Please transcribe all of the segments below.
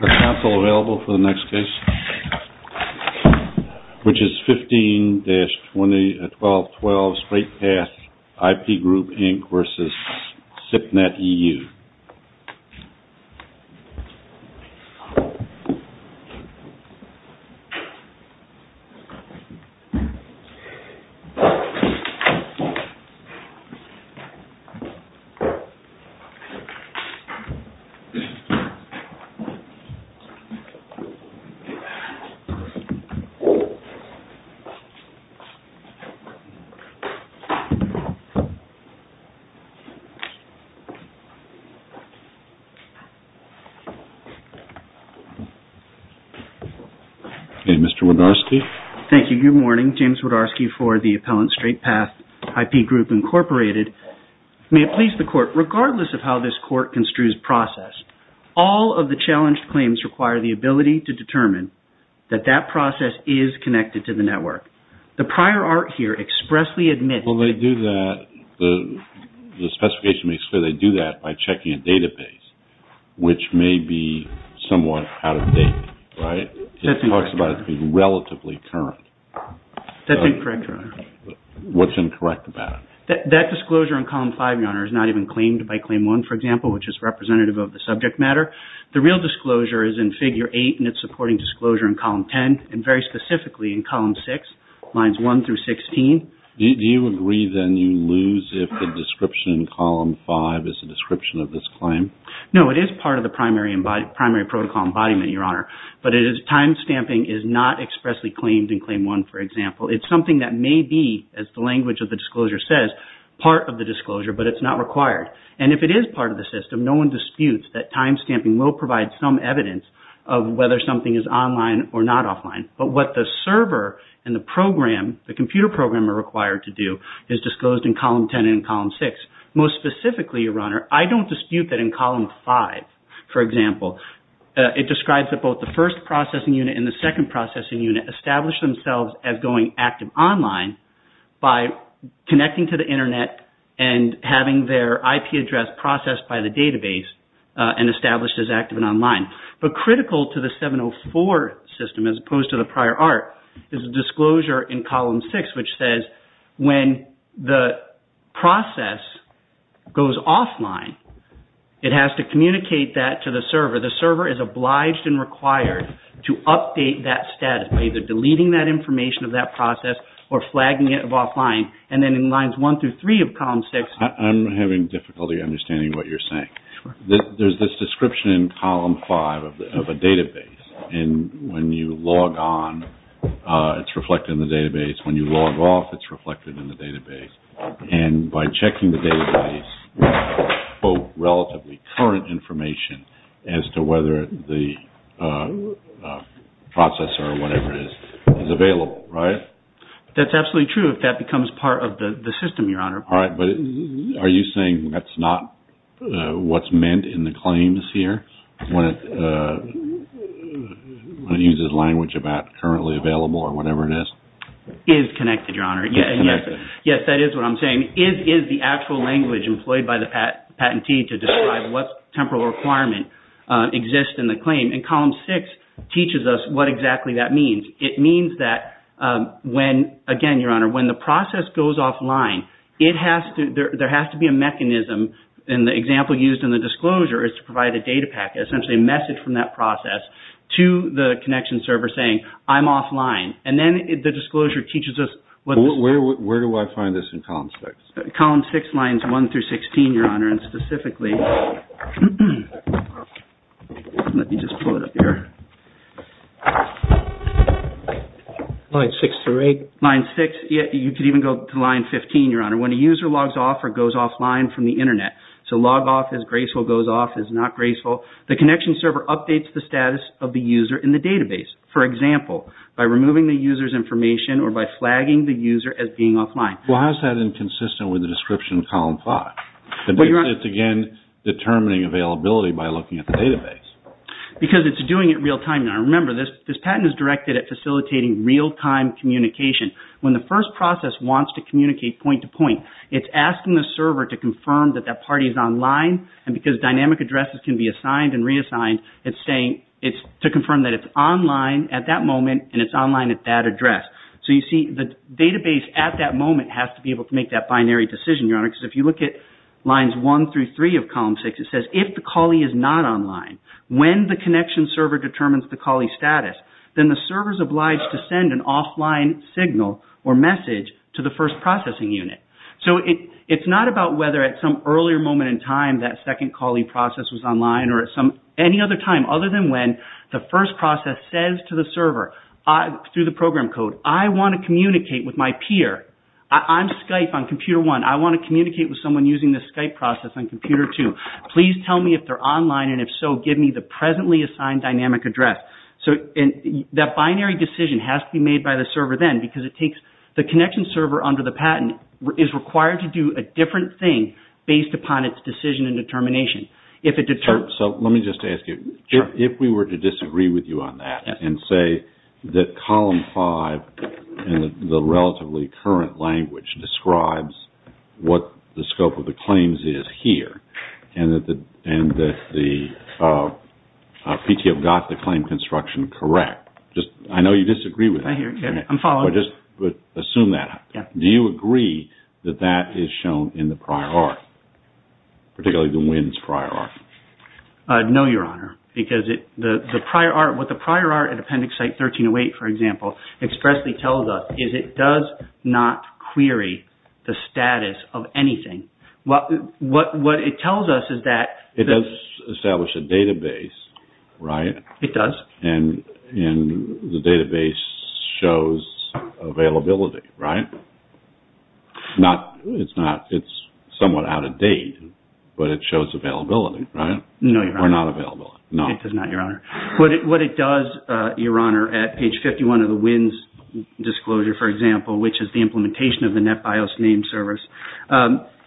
the council available for the next case, which is 15-20-12-12 straight path IP group Inc. May it please the court, regardless of how this court construes process, all of the challenged claims require the ability to determine that that process is connected to the network. The prior art here expressly admits that the disclosure in column 5 is not even claimed by claim 1, for example, which is representative of the subject matter. The real disclosure is in figure 8, and it's supporting disclosure in column 10, and very specifically in column 6, lines 1-16. Do you agree, then, you lose if the description in column 5 is a description of this claim? No, it is part of the primary protocol embodiment, Your Honor, but timestamping is not expressly claimed in claim 1, for example. It's something that may be, as the language of the disclosure says, part of the disclosure, but it's not required. And if it is part of the system, no one disputes that timestamping will provide some evidence of whether something is online or not offline. But what the server and the program, the computer program, are required to do is disclosed in column 10 and column 6. Most specifically, Your Honor, I don't dispute that in column 5, for example, it describes that both the first processing unit and the second IP address processed by the database and established as active and online. But critical to the 704 system, as opposed to the prior art, is a disclosure in column 6, which says when the process goes offline, it has to communicate that to the server. The server is obliged and required to update that status by either deleting that information of that process or flagging it of offline, and then in lines 1-3 of column 6... I'm having difficulty understanding what you're saying. There's this description in column 5 of a database, and when you log on, it's reflected in the database. When you log off, it's reflected in the database. And by checking the database, both relatively current information as to whether the process or whatever it is is available, right? That's absolutely true, if that becomes part of the system, Your Honor. All right, but are you saying that's not what's meant in the claims here? When it uses language about currently available or whatever it is? It is connected, Your Honor. Yes, that is what I'm saying. It is the actual language employed by the patentee to describe what temporal requirement exists in the claim. And column 6 teaches us what exactly that means. It means that when, again, Your Honor, when the process goes offline, there has to be a mechanism, and the example used in the disclosure is to provide a data packet, essentially a message from that process to the connection server saying, I'm offline. And then the disclosure teaches us what... Where do I find this in column 6? Column 6, lines 1-16, Your Honor, and specifically... Let me just pull it up here. Line 6-8. Line 6, you could even go to line 15, Your Honor. When a user logs off or goes offline from the Internet, so log off is graceful, goes off is not graceful, the connection server updates the status of the user in the database. For example, by removing the user's information or by flagging the user as being offline. Well, how is that inconsistent with the description in column 5? It's, again, determining availability by looking at the database. Because it's doing it real-time. Now, remember, this patent is directed at facilitating real-time communication. When the first process wants to communicate point-to-point, it's asking the server to confirm that that party is online, and because dynamic addresses can be assigned and reassigned, it's saying to confirm that it's online at that moment and it's online at that address. So, you see, the database at that moment has to be able to make that binary decision, Your Honor, because if you look at lines 1 through 3 of column 6, it says, if the callee is not online, when the connection server determines the callee's status, then the server is obliged to send an offline signal or message to the first processing unit. So, it's not about whether at some earlier moment in time that second callee process was online or at any other time other than when the first process says to the server through the program code, I want to communicate with my peer. I'm Skype on computer 1. I want to communicate with someone using the Skype process on computer 2. Please tell me if they're online, and if so, give me the presently assigned dynamic address. So, that binary decision has to be made by the server then, because the connection server under the patent is required to do a different thing based upon its decision and determination. So, let me just ask you, if we were to disagree with you on that and say that column 5 in the relatively current language describes what the scope of the claims is here and that the PTO got the claim construction correct. I know you disagree with me, but just assume that. Do you agree that that is shown in the prior art, particularly the WINS prior art? No, Your Honor, because what the prior art at Appendix Site 1308, for example, expressly tells us is it does not query the status of anything. What it tells us is that... It does establish a database, right? It does. And the database shows availability, right? It's somewhat out of date, but it shows availability, right? No, Your Honor. Or not available. It does not, Your Honor. What it does, Your Honor, at page 51 of the WINS disclosure, for example, which is the implementation of the NetBIOS name service,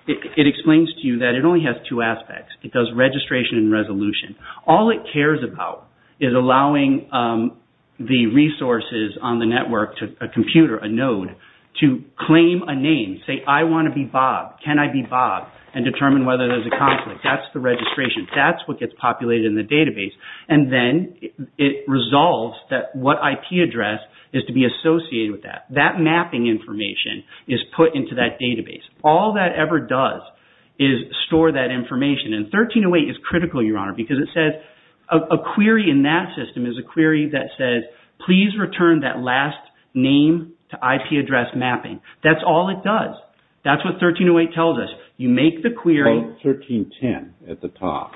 it explains to you that it only has two aspects. It does registration and resolution. All it cares about is allowing the resources on the network to a computer, a node, to claim a name, say, I want to be Bob. Can I be Bob? And determine whether there's a conflict. That's the registration. That's what gets populated in the database. And then it resolves that what IP address is to be associated with that. That mapping information is put into that database. All that ever does is store that information. And 1308 is critical, Your Honor, because it says, a query in that system is a query that says, please return that last name to IP address mapping. That's all it does. That's what 1308 tells us. You make the query. Quote 1310 at the top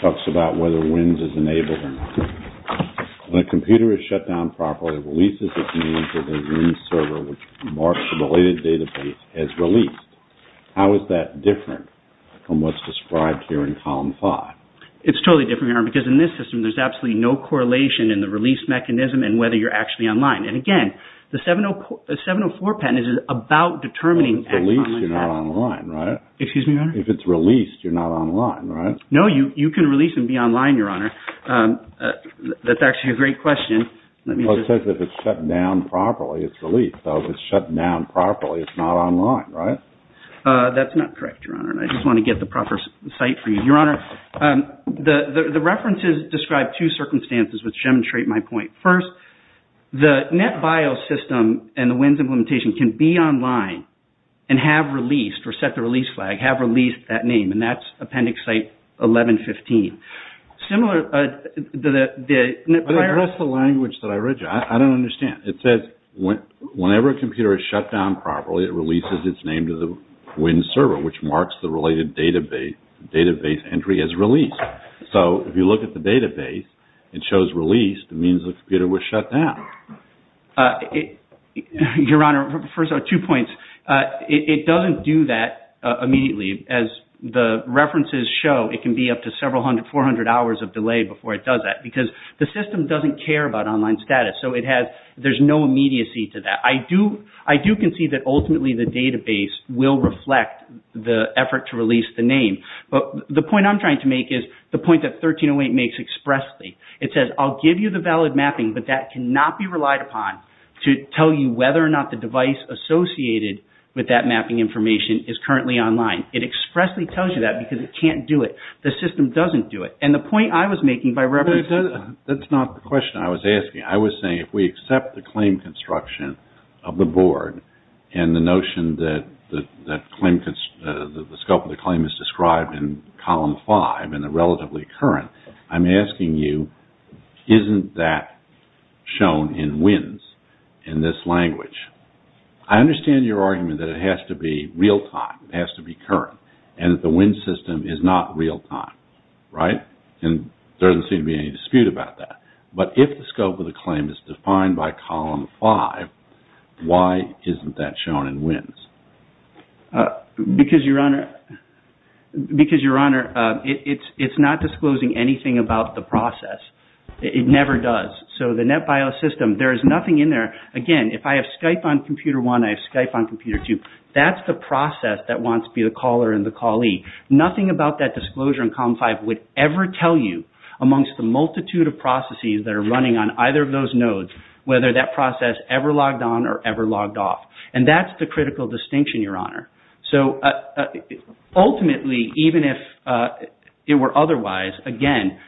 talks about whether WINS is enabled or not. When a computer is shut down properly, it releases its name to the WINS server which marks the related database as released. How is that different from what's described here in column five? It's totally different, Your Honor, because in this system there's absolutely no correlation in the release mechanism and whether you're actually online. And, again, the 704 patent is about determining. If it's released, you're not online, right? Excuse me, Your Honor? If it's released, you're not online, right? No, you can release and be online, Your Honor. That's actually a great question. Well, it says if it's shut down properly, it's released. If it's shut down properly, it's not online, right? That's not correct, Your Honor. I just want to get the proper site for you. Your Honor, the references describe two circumstances which demonstrate my point. First, the NetBIOS system and the WINS implementation can be online and have released or set the release flag, have released that name, and that's Appendix Site 1115. Similar to the NetBIOS… That's the language that I read you. I don't understand. It says whenever a computer is shut down properly, it releases its name to the WINS server, which marks the related database entry as released. So if you look at the database, it shows released. It means the computer was shut down. Your Honor, first of all, two points. It doesn't do that immediately. As the references show, it can be up to several hundred, 400 hours of delay before it does that because the system doesn't care about online status. So there's no immediacy to that. I do concede that ultimately the database will reflect the effort to release the name. But the point I'm trying to make is the point that 1308 makes expressly. It says I'll give you the valid mapping, but that cannot be relied upon to tell you whether or not the device associated with that mapping information is currently online. It expressly tells you that because it can't do it. The system doesn't do it. And the point I was making by referencing… That's not the question I was asking. I was saying if we accept the claim construction of the board and the notion that the scope of the claim is described in Column 5 and a relatively current, I'm asking you, isn't that shown in WINS in this language? I understand your argument that it has to be real-time. It has to be current. And that the WINS system is not real-time, right? And there doesn't seem to be any dispute about that. But if the scope of the claim is defined by Column 5, why isn't that shown in WINS? Because, Your Honor, it's not disclosing anything about the process. It never does. So the NetBIOS system, there is nothing in there. Again, if I have Skype on Computer 1 and I have Skype on Computer 2, that's the process that wants to be the caller and the callee. Nothing about that disclosure in Column 5 would ever tell you amongst the multitude of processes that are running on either of those nodes whether that process ever logged on or ever logged off. And that's the critical distinction, Your Honor. So ultimately, even if it were otherwise, again,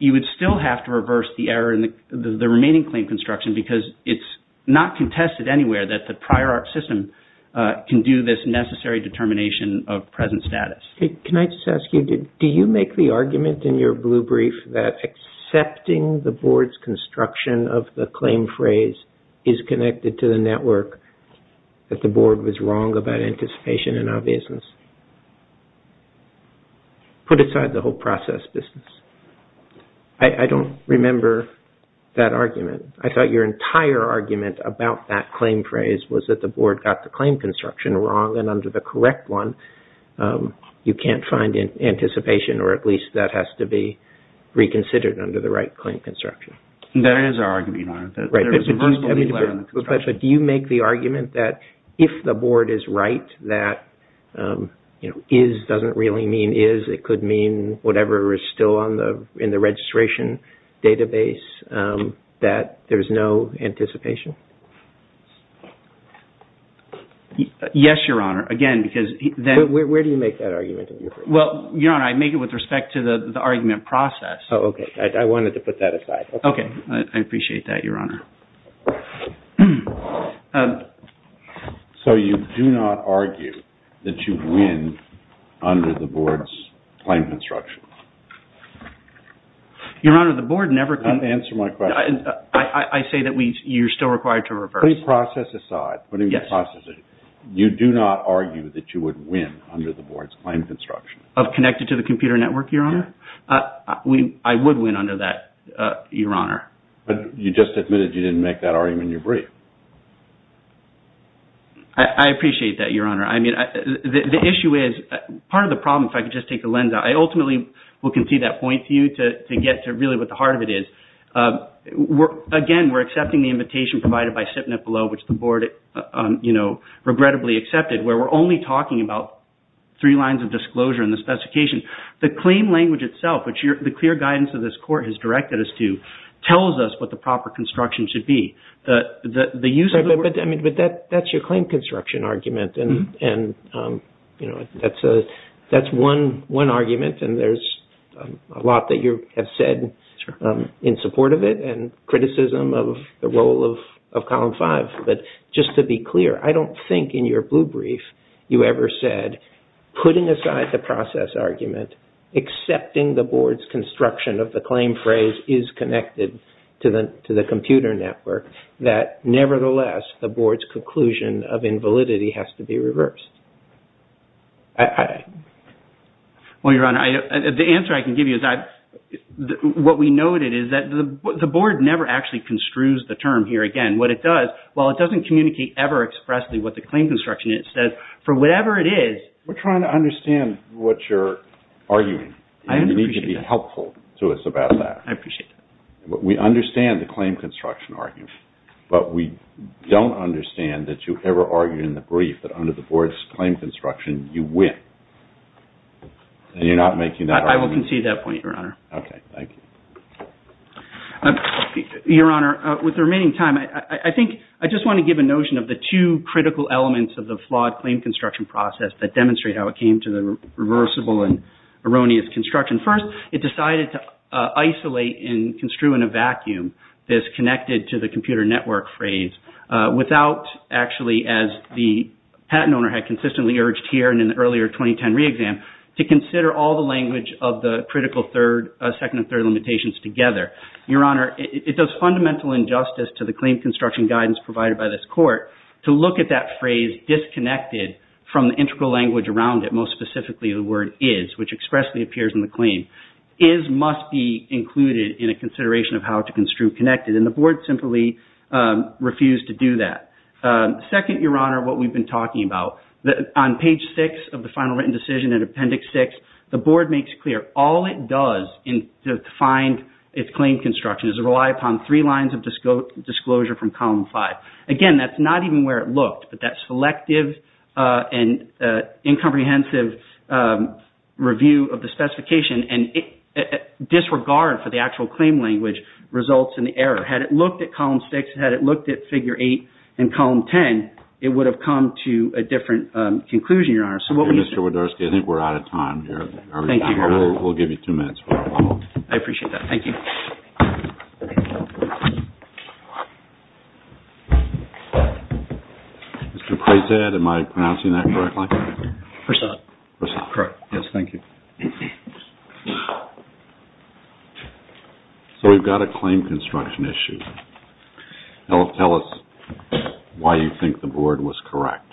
you would still have to reverse the error in the remaining claim construction because it's not contested anywhere that the prior art system can do this necessary determination of present status. Can I just ask you, do you make the argument in your blue brief that accepting the board's construction of the claim phrase is connected to the network that the board was wrong about anticipation and obviousness? Put aside the whole process business. I don't remember that argument. I thought your entire argument about that claim phrase was that the board got the claim construction wrong and under the correct one, you can't find anticipation or at least that has to be reconsidered under the right claim construction. There is an argument, Your Honor. But do you make the argument that if the board is right, that is doesn't really mean is. It could mean whatever is still in the registration database, that there is no anticipation. Yes, Your Honor. Again, because where do you make that argument? Well, Your Honor, I make it with respect to the argument process. Okay. I wanted to put that aside. Okay. I appreciate that, Your Honor. So you do not argue that you win under the board's claim construction? Your Honor, the board never. Answer my question. I say that you're still required to reverse. Please process aside. Yes. You do not argue that you would win under the board's claim construction? Of connected to the computer network, Your Honor? Yes. I would win under that, Your Honor. But you just admitted you didn't make that argument in your brief. I appreciate that, Your Honor. I mean, the issue is part of the problem, if I could just take a lens out. I ultimately will concede that point to you to get to really what the heart of it is. Again, we're accepting the invitation provided by SIPNF below, which the board, you know, regrettably accepted, where we're only talking about three lines of disclosure in the specification. The claim language itself, which the clear guidance of this court has directed us to, tells us what the proper construction should be. But that's your claim construction argument, and, you know, that's one argument, and there's a lot that you have said in support of it, and criticism of the role of Column 5. But just to be clear, I don't think in your blue brief you ever said, putting aside the process argument, accepting the board's construction of the claim phrase is connected to the computer network, that, nevertheless, the board's conclusion of invalidity has to be reversed. Well, Your Honor, the answer I can give you is that what we noted is that the board never actually construes the term here again. What it does, while it doesn't communicate ever expressly what the claim construction is, it says, for whatever it is... We're trying to understand what you're arguing. You need to be helpful to us about that. I appreciate that. We understand the claim construction argument, but we don't understand that you ever argued in the brief that under the board's claim construction, you win. And you're not making that argument? I will concede that point, Your Honor. Okay, thank you. Your Honor, with the remaining time, I think I just want to give a notion of the two critical elements of the flawed claim construction process that demonstrate how it came to the reversible and erroneous construction. First, it decided to isolate and construe in a vacuum this connected-to-the-computer-network phrase without actually, as the patent owner had consistently urged here and in the earlier 2010 re-exam, to consider all the language of the critical second and third limitations together. Your Honor, it does fundamental injustice to the claim construction guidance provided by this court to look at that phrase disconnected from the integral language around it, and most specifically, the word is, which expressly appears in the claim. Is must be included in a consideration of how to construe connected, and the board simply refused to do that. Second, Your Honor, what we've been talking about, on page six of the final written decision in appendix six, the board makes clear all it does to find its claim construction is to rely upon three lines of disclosure from column five. Again, that's not even where it looked, but that selective and incomprehensive review of the specification and disregard for the actual claim language results in the error. Had it looked at column six, had it looked at figure eight and column ten, it would have come to a different conclusion, Your Honor. Mr. Widorsky, I think we're out of time here. Thank you, Your Honor. We'll give you two minutes. I appreciate that. Thank you. Mr. Prezad, am I pronouncing that correctly? Prezad. Prezad. Correct. Yes, thank you. So we've got a claim construction issue. Tell us why you think the board was correct.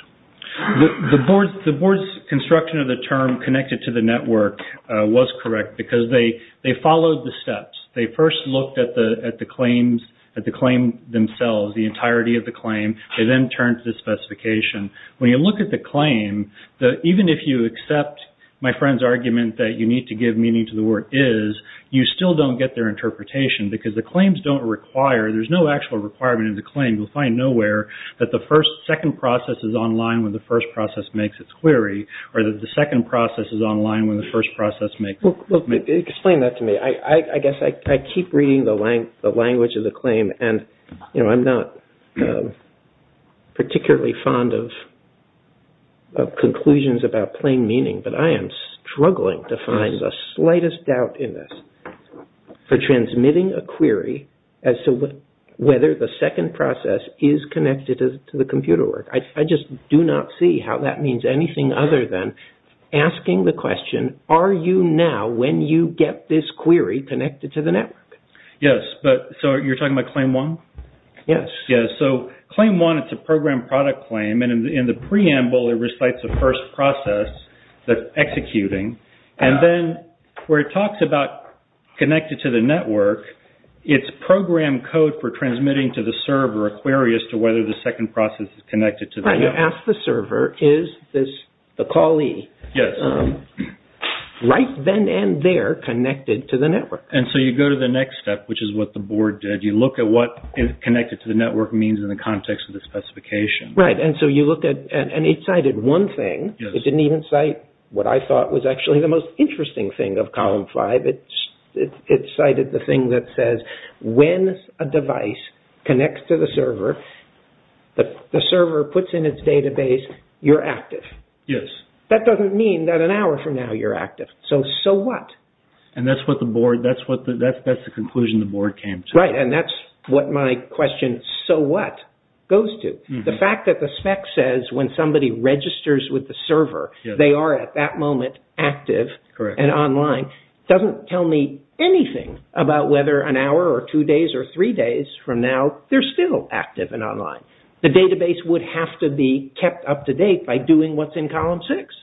The board's construction of the term connected to the network was correct because they followed the steps. They first looked at the claims themselves, the entirety of the claim. They then turned to the specification. When you look at the claim, even if you accept my friend's argument that you need to give meaning to the word is, you still don't get their interpretation because the claims don't require, there's no actual requirement in the claim. You'll find nowhere that the second process is online when the first process makes its query or that the second process is online when the first process makes its query. Explain that to me. I guess I keep reading the language of the claim, and I'm not particularly fond of conclusions about plain meaning, but I am struggling to find the slightest doubt in this for transmitting a query as to whether the second process is connected to the computer work. I just do not see how that means anything other than asking the question, are you now, when you get this query, connected to the network? Yes. You're talking about claim one? Yes. Yes. Claim one, it's a program product claim, and in the preamble it recites the first process that's executing. Then where it talks about connected to the network, it's program code for transmitting to the server a query as to whether the second process is connected to the network. Right. What I'm trying to ask the server is the callee. Yes. Right then and there connected to the network. So you go to the next step, which is what the board did. You look at what connected to the network means in the context of the specification. Right. It cited one thing. It didn't even cite what I thought was actually the most interesting thing of column five. It cited the thing that says when a device connects to the server, the server puts in its database, you're active. Yes. That doesn't mean that an hour from now you're active. So, so what? And that's what the board, that's the conclusion the board came to. Right, and that's what my question, so what, goes to. The fact that the spec says when somebody registers with the server, they are at that moment active and online, doesn't tell me anything about whether an hour or two days or three days from now, they're still active and online. The database would have to be kept up to date by doing what's in column six.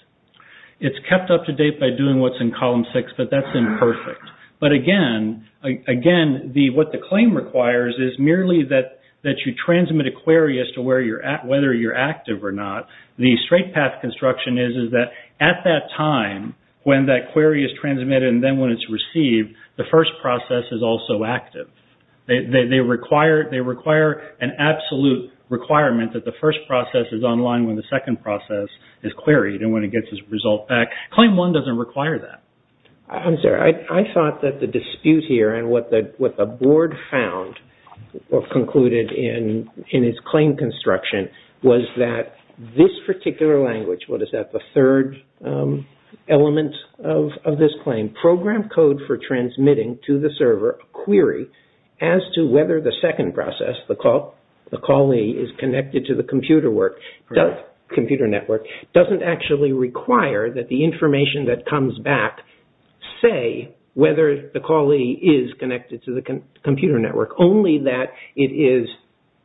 It's kept up to date by doing what's in column six, but that's imperfect. But again, again, what the claim requires is merely that you transmit a query as to where you're at, whether you're active or not. The straight path construction is that at that time when that query is transmitted and then when it's received, the first process is also active. They require an absolute requirement that the first process is online when the second process is queried and when it gets its result back. Claim one doesn't require that. I'm sorry. One of the things that I mentioned in its claim construction was that this particular language, what is that, the third element of this claim, program code for transmitting to the server a query as to whether the second process, the callee is connected to the computer network, doesn't actually require that the information that comes back say whether the callee is connected to the computer network, only that it is,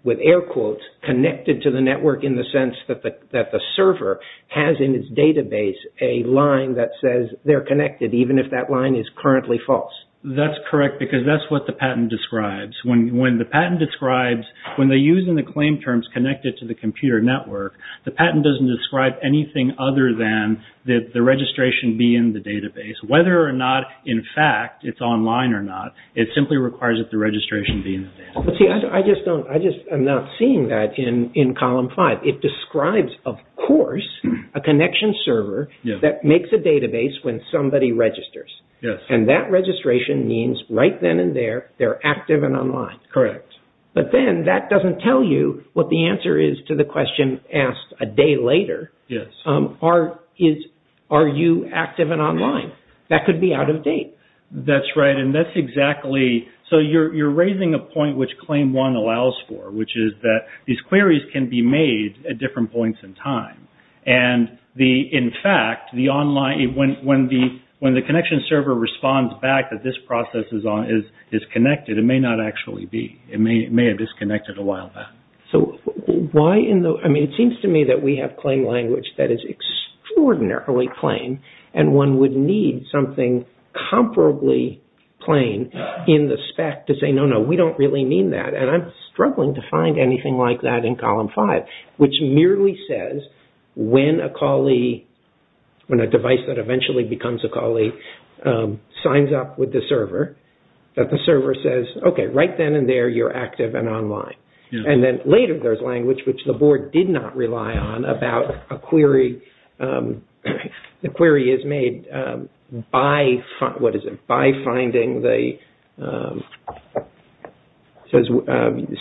with air quotes, connected to the network in the sense that the server has in its database a line that says they're connected even if that line is currently false. That's correct because that's what the patent describes. When the patent describes, when they're using the claim terms connected to the computer network, the patent doesn't describe anything other than that the registration be in the database. Whether or not, in fact, it's online or not, it simply requires that the registration be in the database. I just am not seeing that in column five. It describes, of course, a connection server that makes a database when somebody registers and that registration means right then and there they're active and online. Correct. But then that doesn't tell you what the answer is to the question asked a day later. Yes. Are you active and online? That could be out of date. That's right and that's exactly, so you're raising a point which claim one allows for which is that these queries can be made at different points in time. In fact, when the connection server responds back that this process is connected, it may not actually be. It may have disconnected a while back. It seems to me that we have claim language that is extraordinarily plain and one would need something comparably plain in the spec to say, no, no, we don't really mean that and I'm struggling to find anything like that in column five, which merely says when a device that eventually becomes a callee signs up with the server, that the server says, okay, right then and there you're active and online. And then later there's language which the board did not rely on about a query. The query is made by, what is it, by finding the, it says,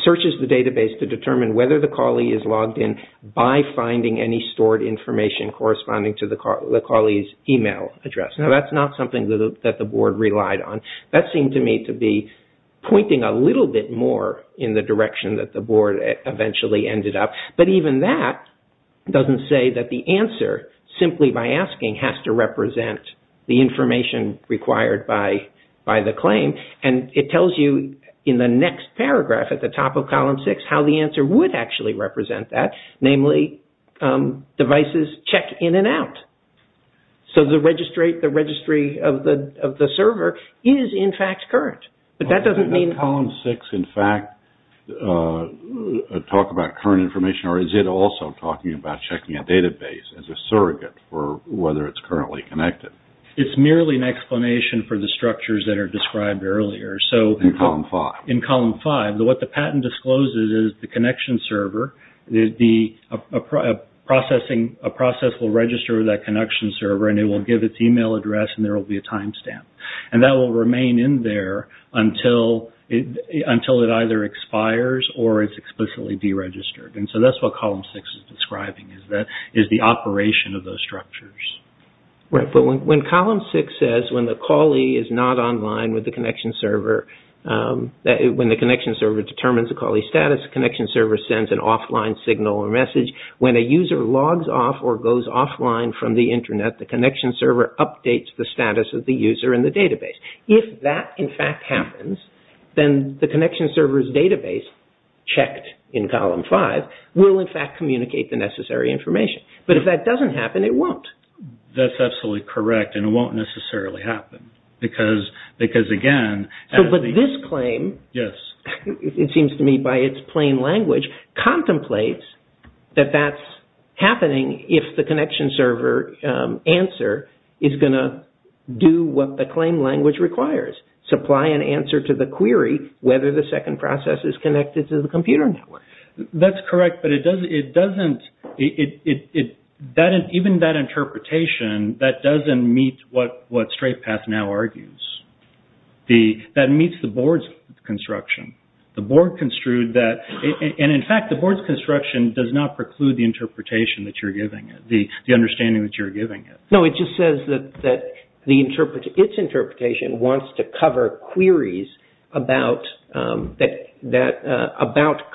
searches the database to determine whether the callee is logged in by finding any stored information corresponding to the callee's email address. Now, that's not something that the board relied on. That seemed to me to be pointing a little bit more in the direction that the board eventually ended up. But even that doesn't say that the answer, simply by asking, has to represent the information required by the claim. And it tells you in the next paragraph at the top of column six how the answer would actually represent that, namely devices check in and out. So the registry of the server is in fact current. But that doesn't mean... Does column six in fact talk about current information or is it also talking about checking a database as a surrogate for whether it's currently connected? It's merely an explanation for the structures that are described earlier. In column five. In column five. What the patent discloses is the connection server, a process will register that connection server and it will give its email address and there will be a timestamp. And that will remain in there until it either expires or it's explicitly deregistered. And so that's what column six is describing, is the operation of those structures. Right. But when column six says when the callee is not online with the connection server, when the connection server determines the callee's status, that connection server sends an offline signal or message. When a user logs off or goes offline from the internet, the connection server updates the status of the user in the database. If that in fact happens, then the connection server's database, checked in column five, will in fact communicate the necessary information. But if that doesn't happen, it won't. That's absolutely correct and it won't necessarily happen. Because again... But this claim... Yes. It seems to me by its plain language, contemplates that that's happening if the connection server answer is going to do what the claim language requires, supply an answer to the query whether the second process is connected to the computer network. That's correct, but it doesn't... Even that interpretation, that doesn't meet what StraightPath now argues. That meets the board's construction. The board construed that... And in fact, the board's construction does not preclude the interpretation that you're giving it, the understanding that you're giving it. No, it just says that its interpretation wants to cover queries about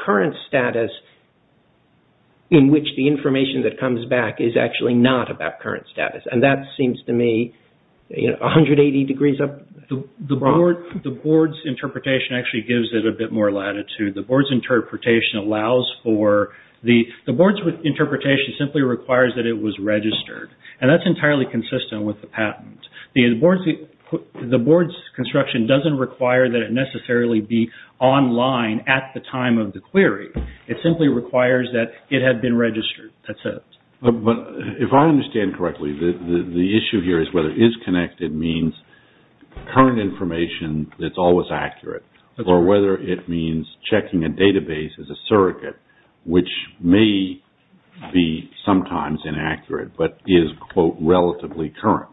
current status in which the information that comes back is actually not about current status. And that seems to me 180 degrees up... The board's interpretation actually gives it a bit more latitude. The board's interpretation allows for... The board's interpretation simply requires that it was registered. And that's entirely consistent with the patent. The board's construction doesn't require that it necessarily be online at the time of the query. It simply requires that it had been registered. That's it. But if I understand correctly, the issue here is whether isConnected means current information that's always accurate, or whether it means checking a database as a surrogate, which may be sometimes inaccurate, but is, quote, relatively current,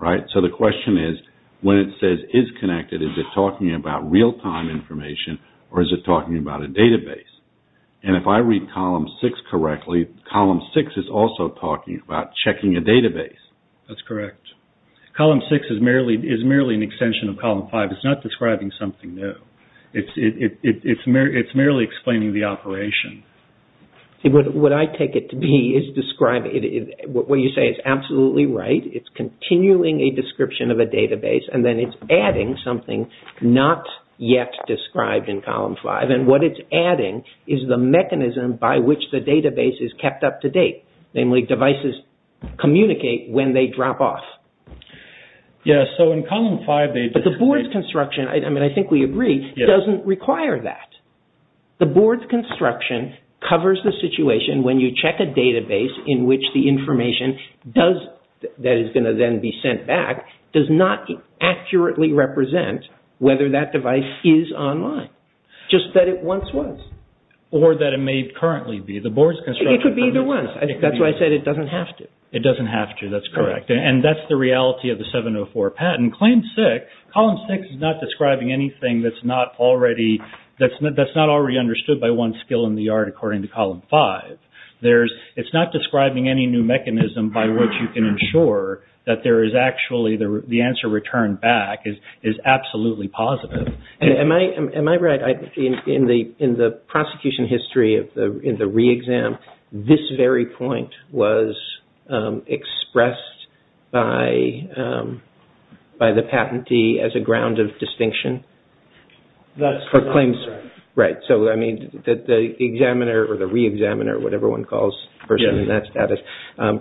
right? So the question is, when it says isConnected, is it talking about real-time information, or is it talking about a database? And if I read column six correctly, column six is also talking about checking a database. That's correct. Column six is merely an extension of column five. It's not describing something new. It's merely explaining the operation. What I take it to be is describing... What you say is absolutely right. It's continuing a description of a database, and then it's adding something not yet described in column five. And what it's adding is the mechanism by which the database is kept up to date. Namely, devices communicate when they drop off. Yeah, so in column five... But the board's construction, I mean, I think we agree, doesn't require that. The board's construction covers the situation when you check a database in which the information that is going to then be sent back does not accurately represent whether that device is online, just that it once was. Or that it may currently be. The board's construction... It could be either one. That's why I said it doesn't have to. It doesn't have to. That's correct. And that's the reality of the 704 patent. Claim six, column six is not describing anything that's not already understood by one skill in the art according to column five. It's not describing any new mechanism by which you can ensure that there is actually... the answer returned back is absolutely positive. Am I right in the prosecution history in the re-exam, this very point was expressed by the patentee as a ground of distinction? That's not correct. Right. So, I mean, the examiner or the re-examiner, whatever one calls the person in that status,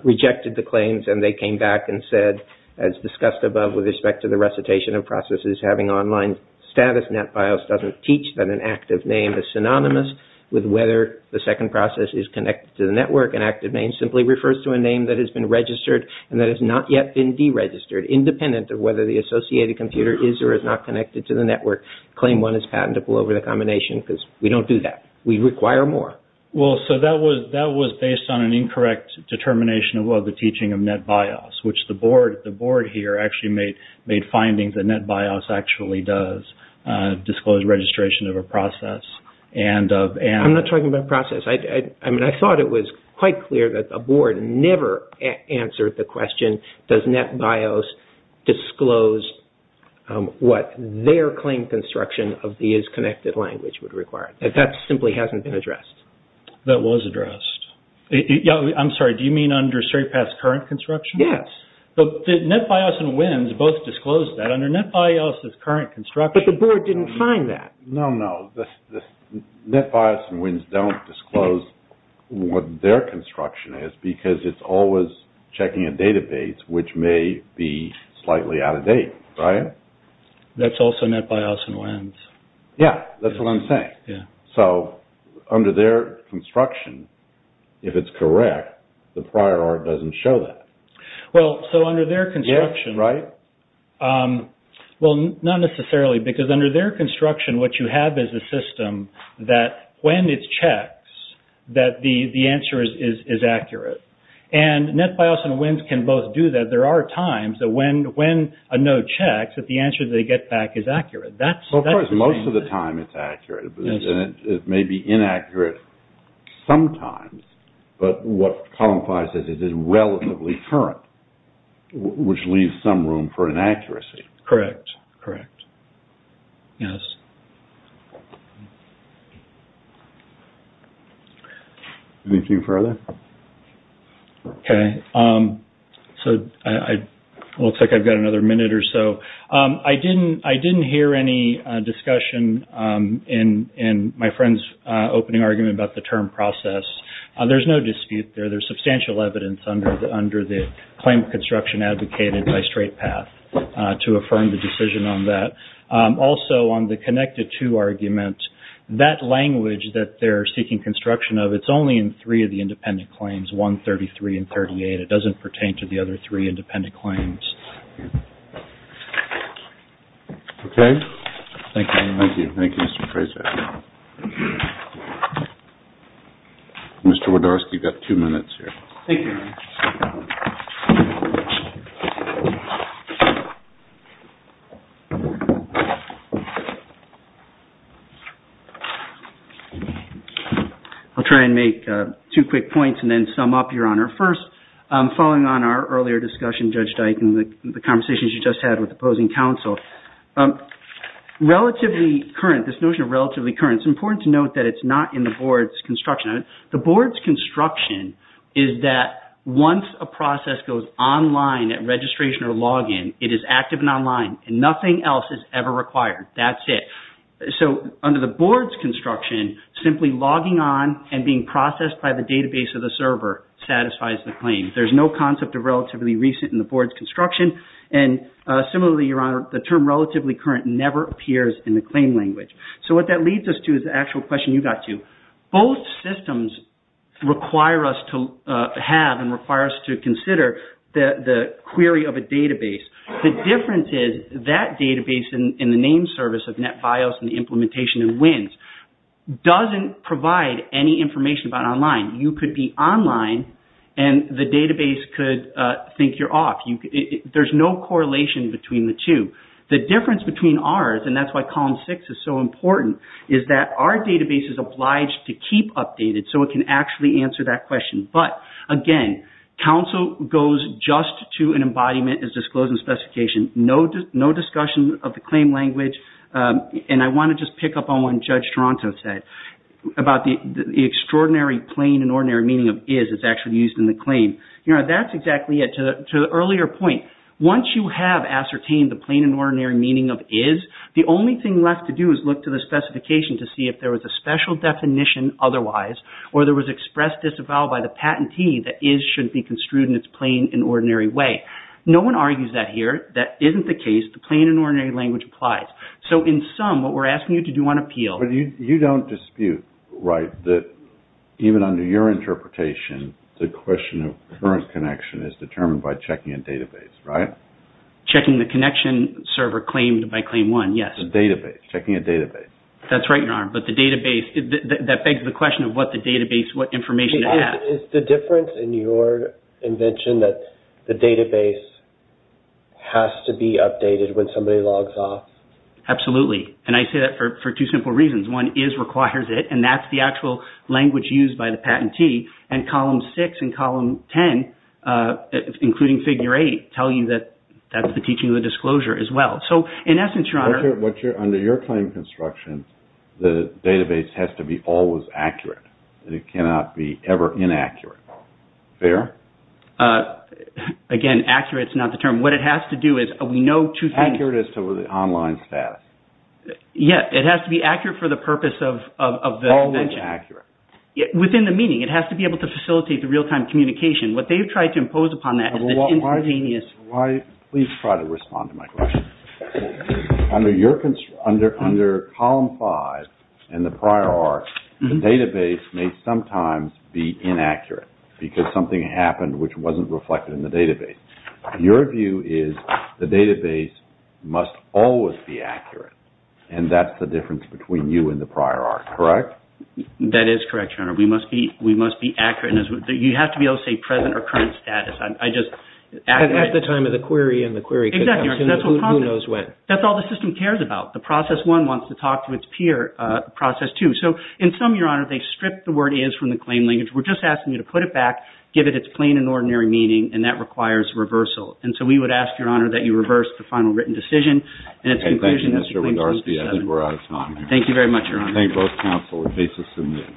rejected the claims and they came back and said, as discussed above with respect to the recitation of processes, having online status, NetBIOS doesn't teach that an active name is synonymous with whether the second process is connected to the network. An active name simply refers to a name that has been registered and that has not yet been deregistered, independent of whether the associated computer is or is not connected to the network. Claim one is patentable over the combination because we don't do that. We require more. Well, so that was based on an incorrect determination of the teaching of NetBIOS, which the board here actually made findings that NetBIOS actually does disclose registration of a process and of... I'm not talking about process. I mean, I thought it was quite clear that the board never answered the question, does NetBIOS disclose what their claim construction of the is-connected language would require? That simply hasn't been addressed. That was addressed. Yeah, I'm sorry, do you mean under Stratepath's current construction? Yes. But NetBIOS and WINS both disclosed that. Under NetBIOS' current construction... But the board didn't find that. No, no. NetBIOS and WINS don't disclose what their construction is because it's always checking a database which may be slightly out of date, right? That's also NetBIOS and WINS. Yeah, that's what I'm saying. So under their construction, if it's correct, the prior art doesn't show that. Well, so under their construction... Yeah, right. Well, not necessarily because under their construction, what you have is a system that when it checks, that the answer is accurate. And NetBIOS and WINS can both do that. There are times that when a node checks, that the answer they get back is accurate. Of course, most of the time it's accurate. It may be inaccurate sometimes, but what Column 5 says is it's relatively current, which leaves some room for inaccuracy. Correct, correct. Yes. Anything further? Okay. So it looks like I've got another minute or so. I didn't hear any discussion in my friend's opening argument about the term process. There's no dispute there. There's substantial evidence under the claim construction advocated by Straight Path to affirm the decision on that. Also, on the connected to argument, that language that they're seeking construction of, it's only in three of the independent claims, 133 and 38. It doesn't pertain to the other three independent claims. Okay. Thank you. Thank you, Mr. Fraser. Mr. Wodarski, you've got two minutes here. Thank you. I'll try and make two quick points and then sum up, Your Honor. First, following on our earlier discussion, Judge Dike, and the conversations you just had with the opposing counsel, relatively current, this notion of relatively current, it's important to note that it's not in the board's construction. The board's construction is that once a process goes online at registration or login, it is active and online and nothing else is ever required. That's it. So, under the board's construction, simply logging on and being processed by the database of the server satisfies the claim. There's no concept of relatively recent in the board's construction. And similarly, Your Honor, the term relatively current never appears in the claim language. So what that leads us to is the actual question you got to. Both systems require us to have and require us to consider the query of a database. The difference is that database in the name service of NetBIOS and the implementation in WINS doesn't provide any information about online. You could be online and the database could think you're off. There's no correlation between the two. The difference between ours, and that's why column six is so important, is that our database is obliged to keep updated so it can actually answer that question. But, again, counsel goes just to an embodiment as disclosed in the specification. No discussion of the claim language. And I want to just pick up on what Judge Toronto said about the extraordinary plain and ordinary meaning of is that's actually used in the claim. Your Honor, that's exactly it. To the earlier point, once you have ascertained the plain and ordinary meaning of is, the only thing left to do is look to the specification to see if there was a special definition otherwise or there was express disavowal by the patentee that is should be construed in its plain and ordinary way. No one argues that here. That isn't the case. The plain and ordinary language applies. So, in sum, what we're asking you to do on appeal... But you don't dispute, right, that even under your interpretation, the question of current connection is determined by checking a database, right? Checking the connection server claimed by claim one, yes. Checking a database. That's right, Your Honor. But the database, that begs the question of what the database, what information it has. Is the difference in your invention that the database has to be updated when somebody logs off? Absolutely. And I say that for two simple reasons. One, is requires it and that's the actual language used by the patentee. And column six and column ten, including figure eight, tell you that that's the teaching of the disclosure as well. So, in essence, Your Honor... Under your claim construction, the database has to be always accurate. It cannot be ever inaccurate. Fair? Again, accurate is not the term. What it has to do is, we know two things... Accurate as to the online status. Yeah. It has to be accurate for the purpose of the invention. Always accurate. Within the meaning. It has to be able to facilitate the real-time communication. What they've tried to impose upon that... Why... Please try to respond to my question. Under column five, and the prior arc, the database may sometimes be inaccurate because something happened which wasn't reflected in the database. Your view is, the database must always be accurate. And that's the difference between you and the prior arc. Correct? That is correct, Your Honor. We must be accurate. You have to be able to say present or current status. I just... At the time of the query and the query... Exactly. Who knows when? That's all the system cares about. The process one wants to talk to its peer. Process two... So, in sum, Your Honor, they stripped the word is from the claim language. We're just asking you to put it back, give it its plain and ordinary meaning, and that requires reversal. And so we would ask, Your Honor, that you reverse the final written decision and its conclusion... Thank you, Mr. Windarski. I think we're out of time. Thank you very much, Your Honor. Thank both counsel. The case is submitted.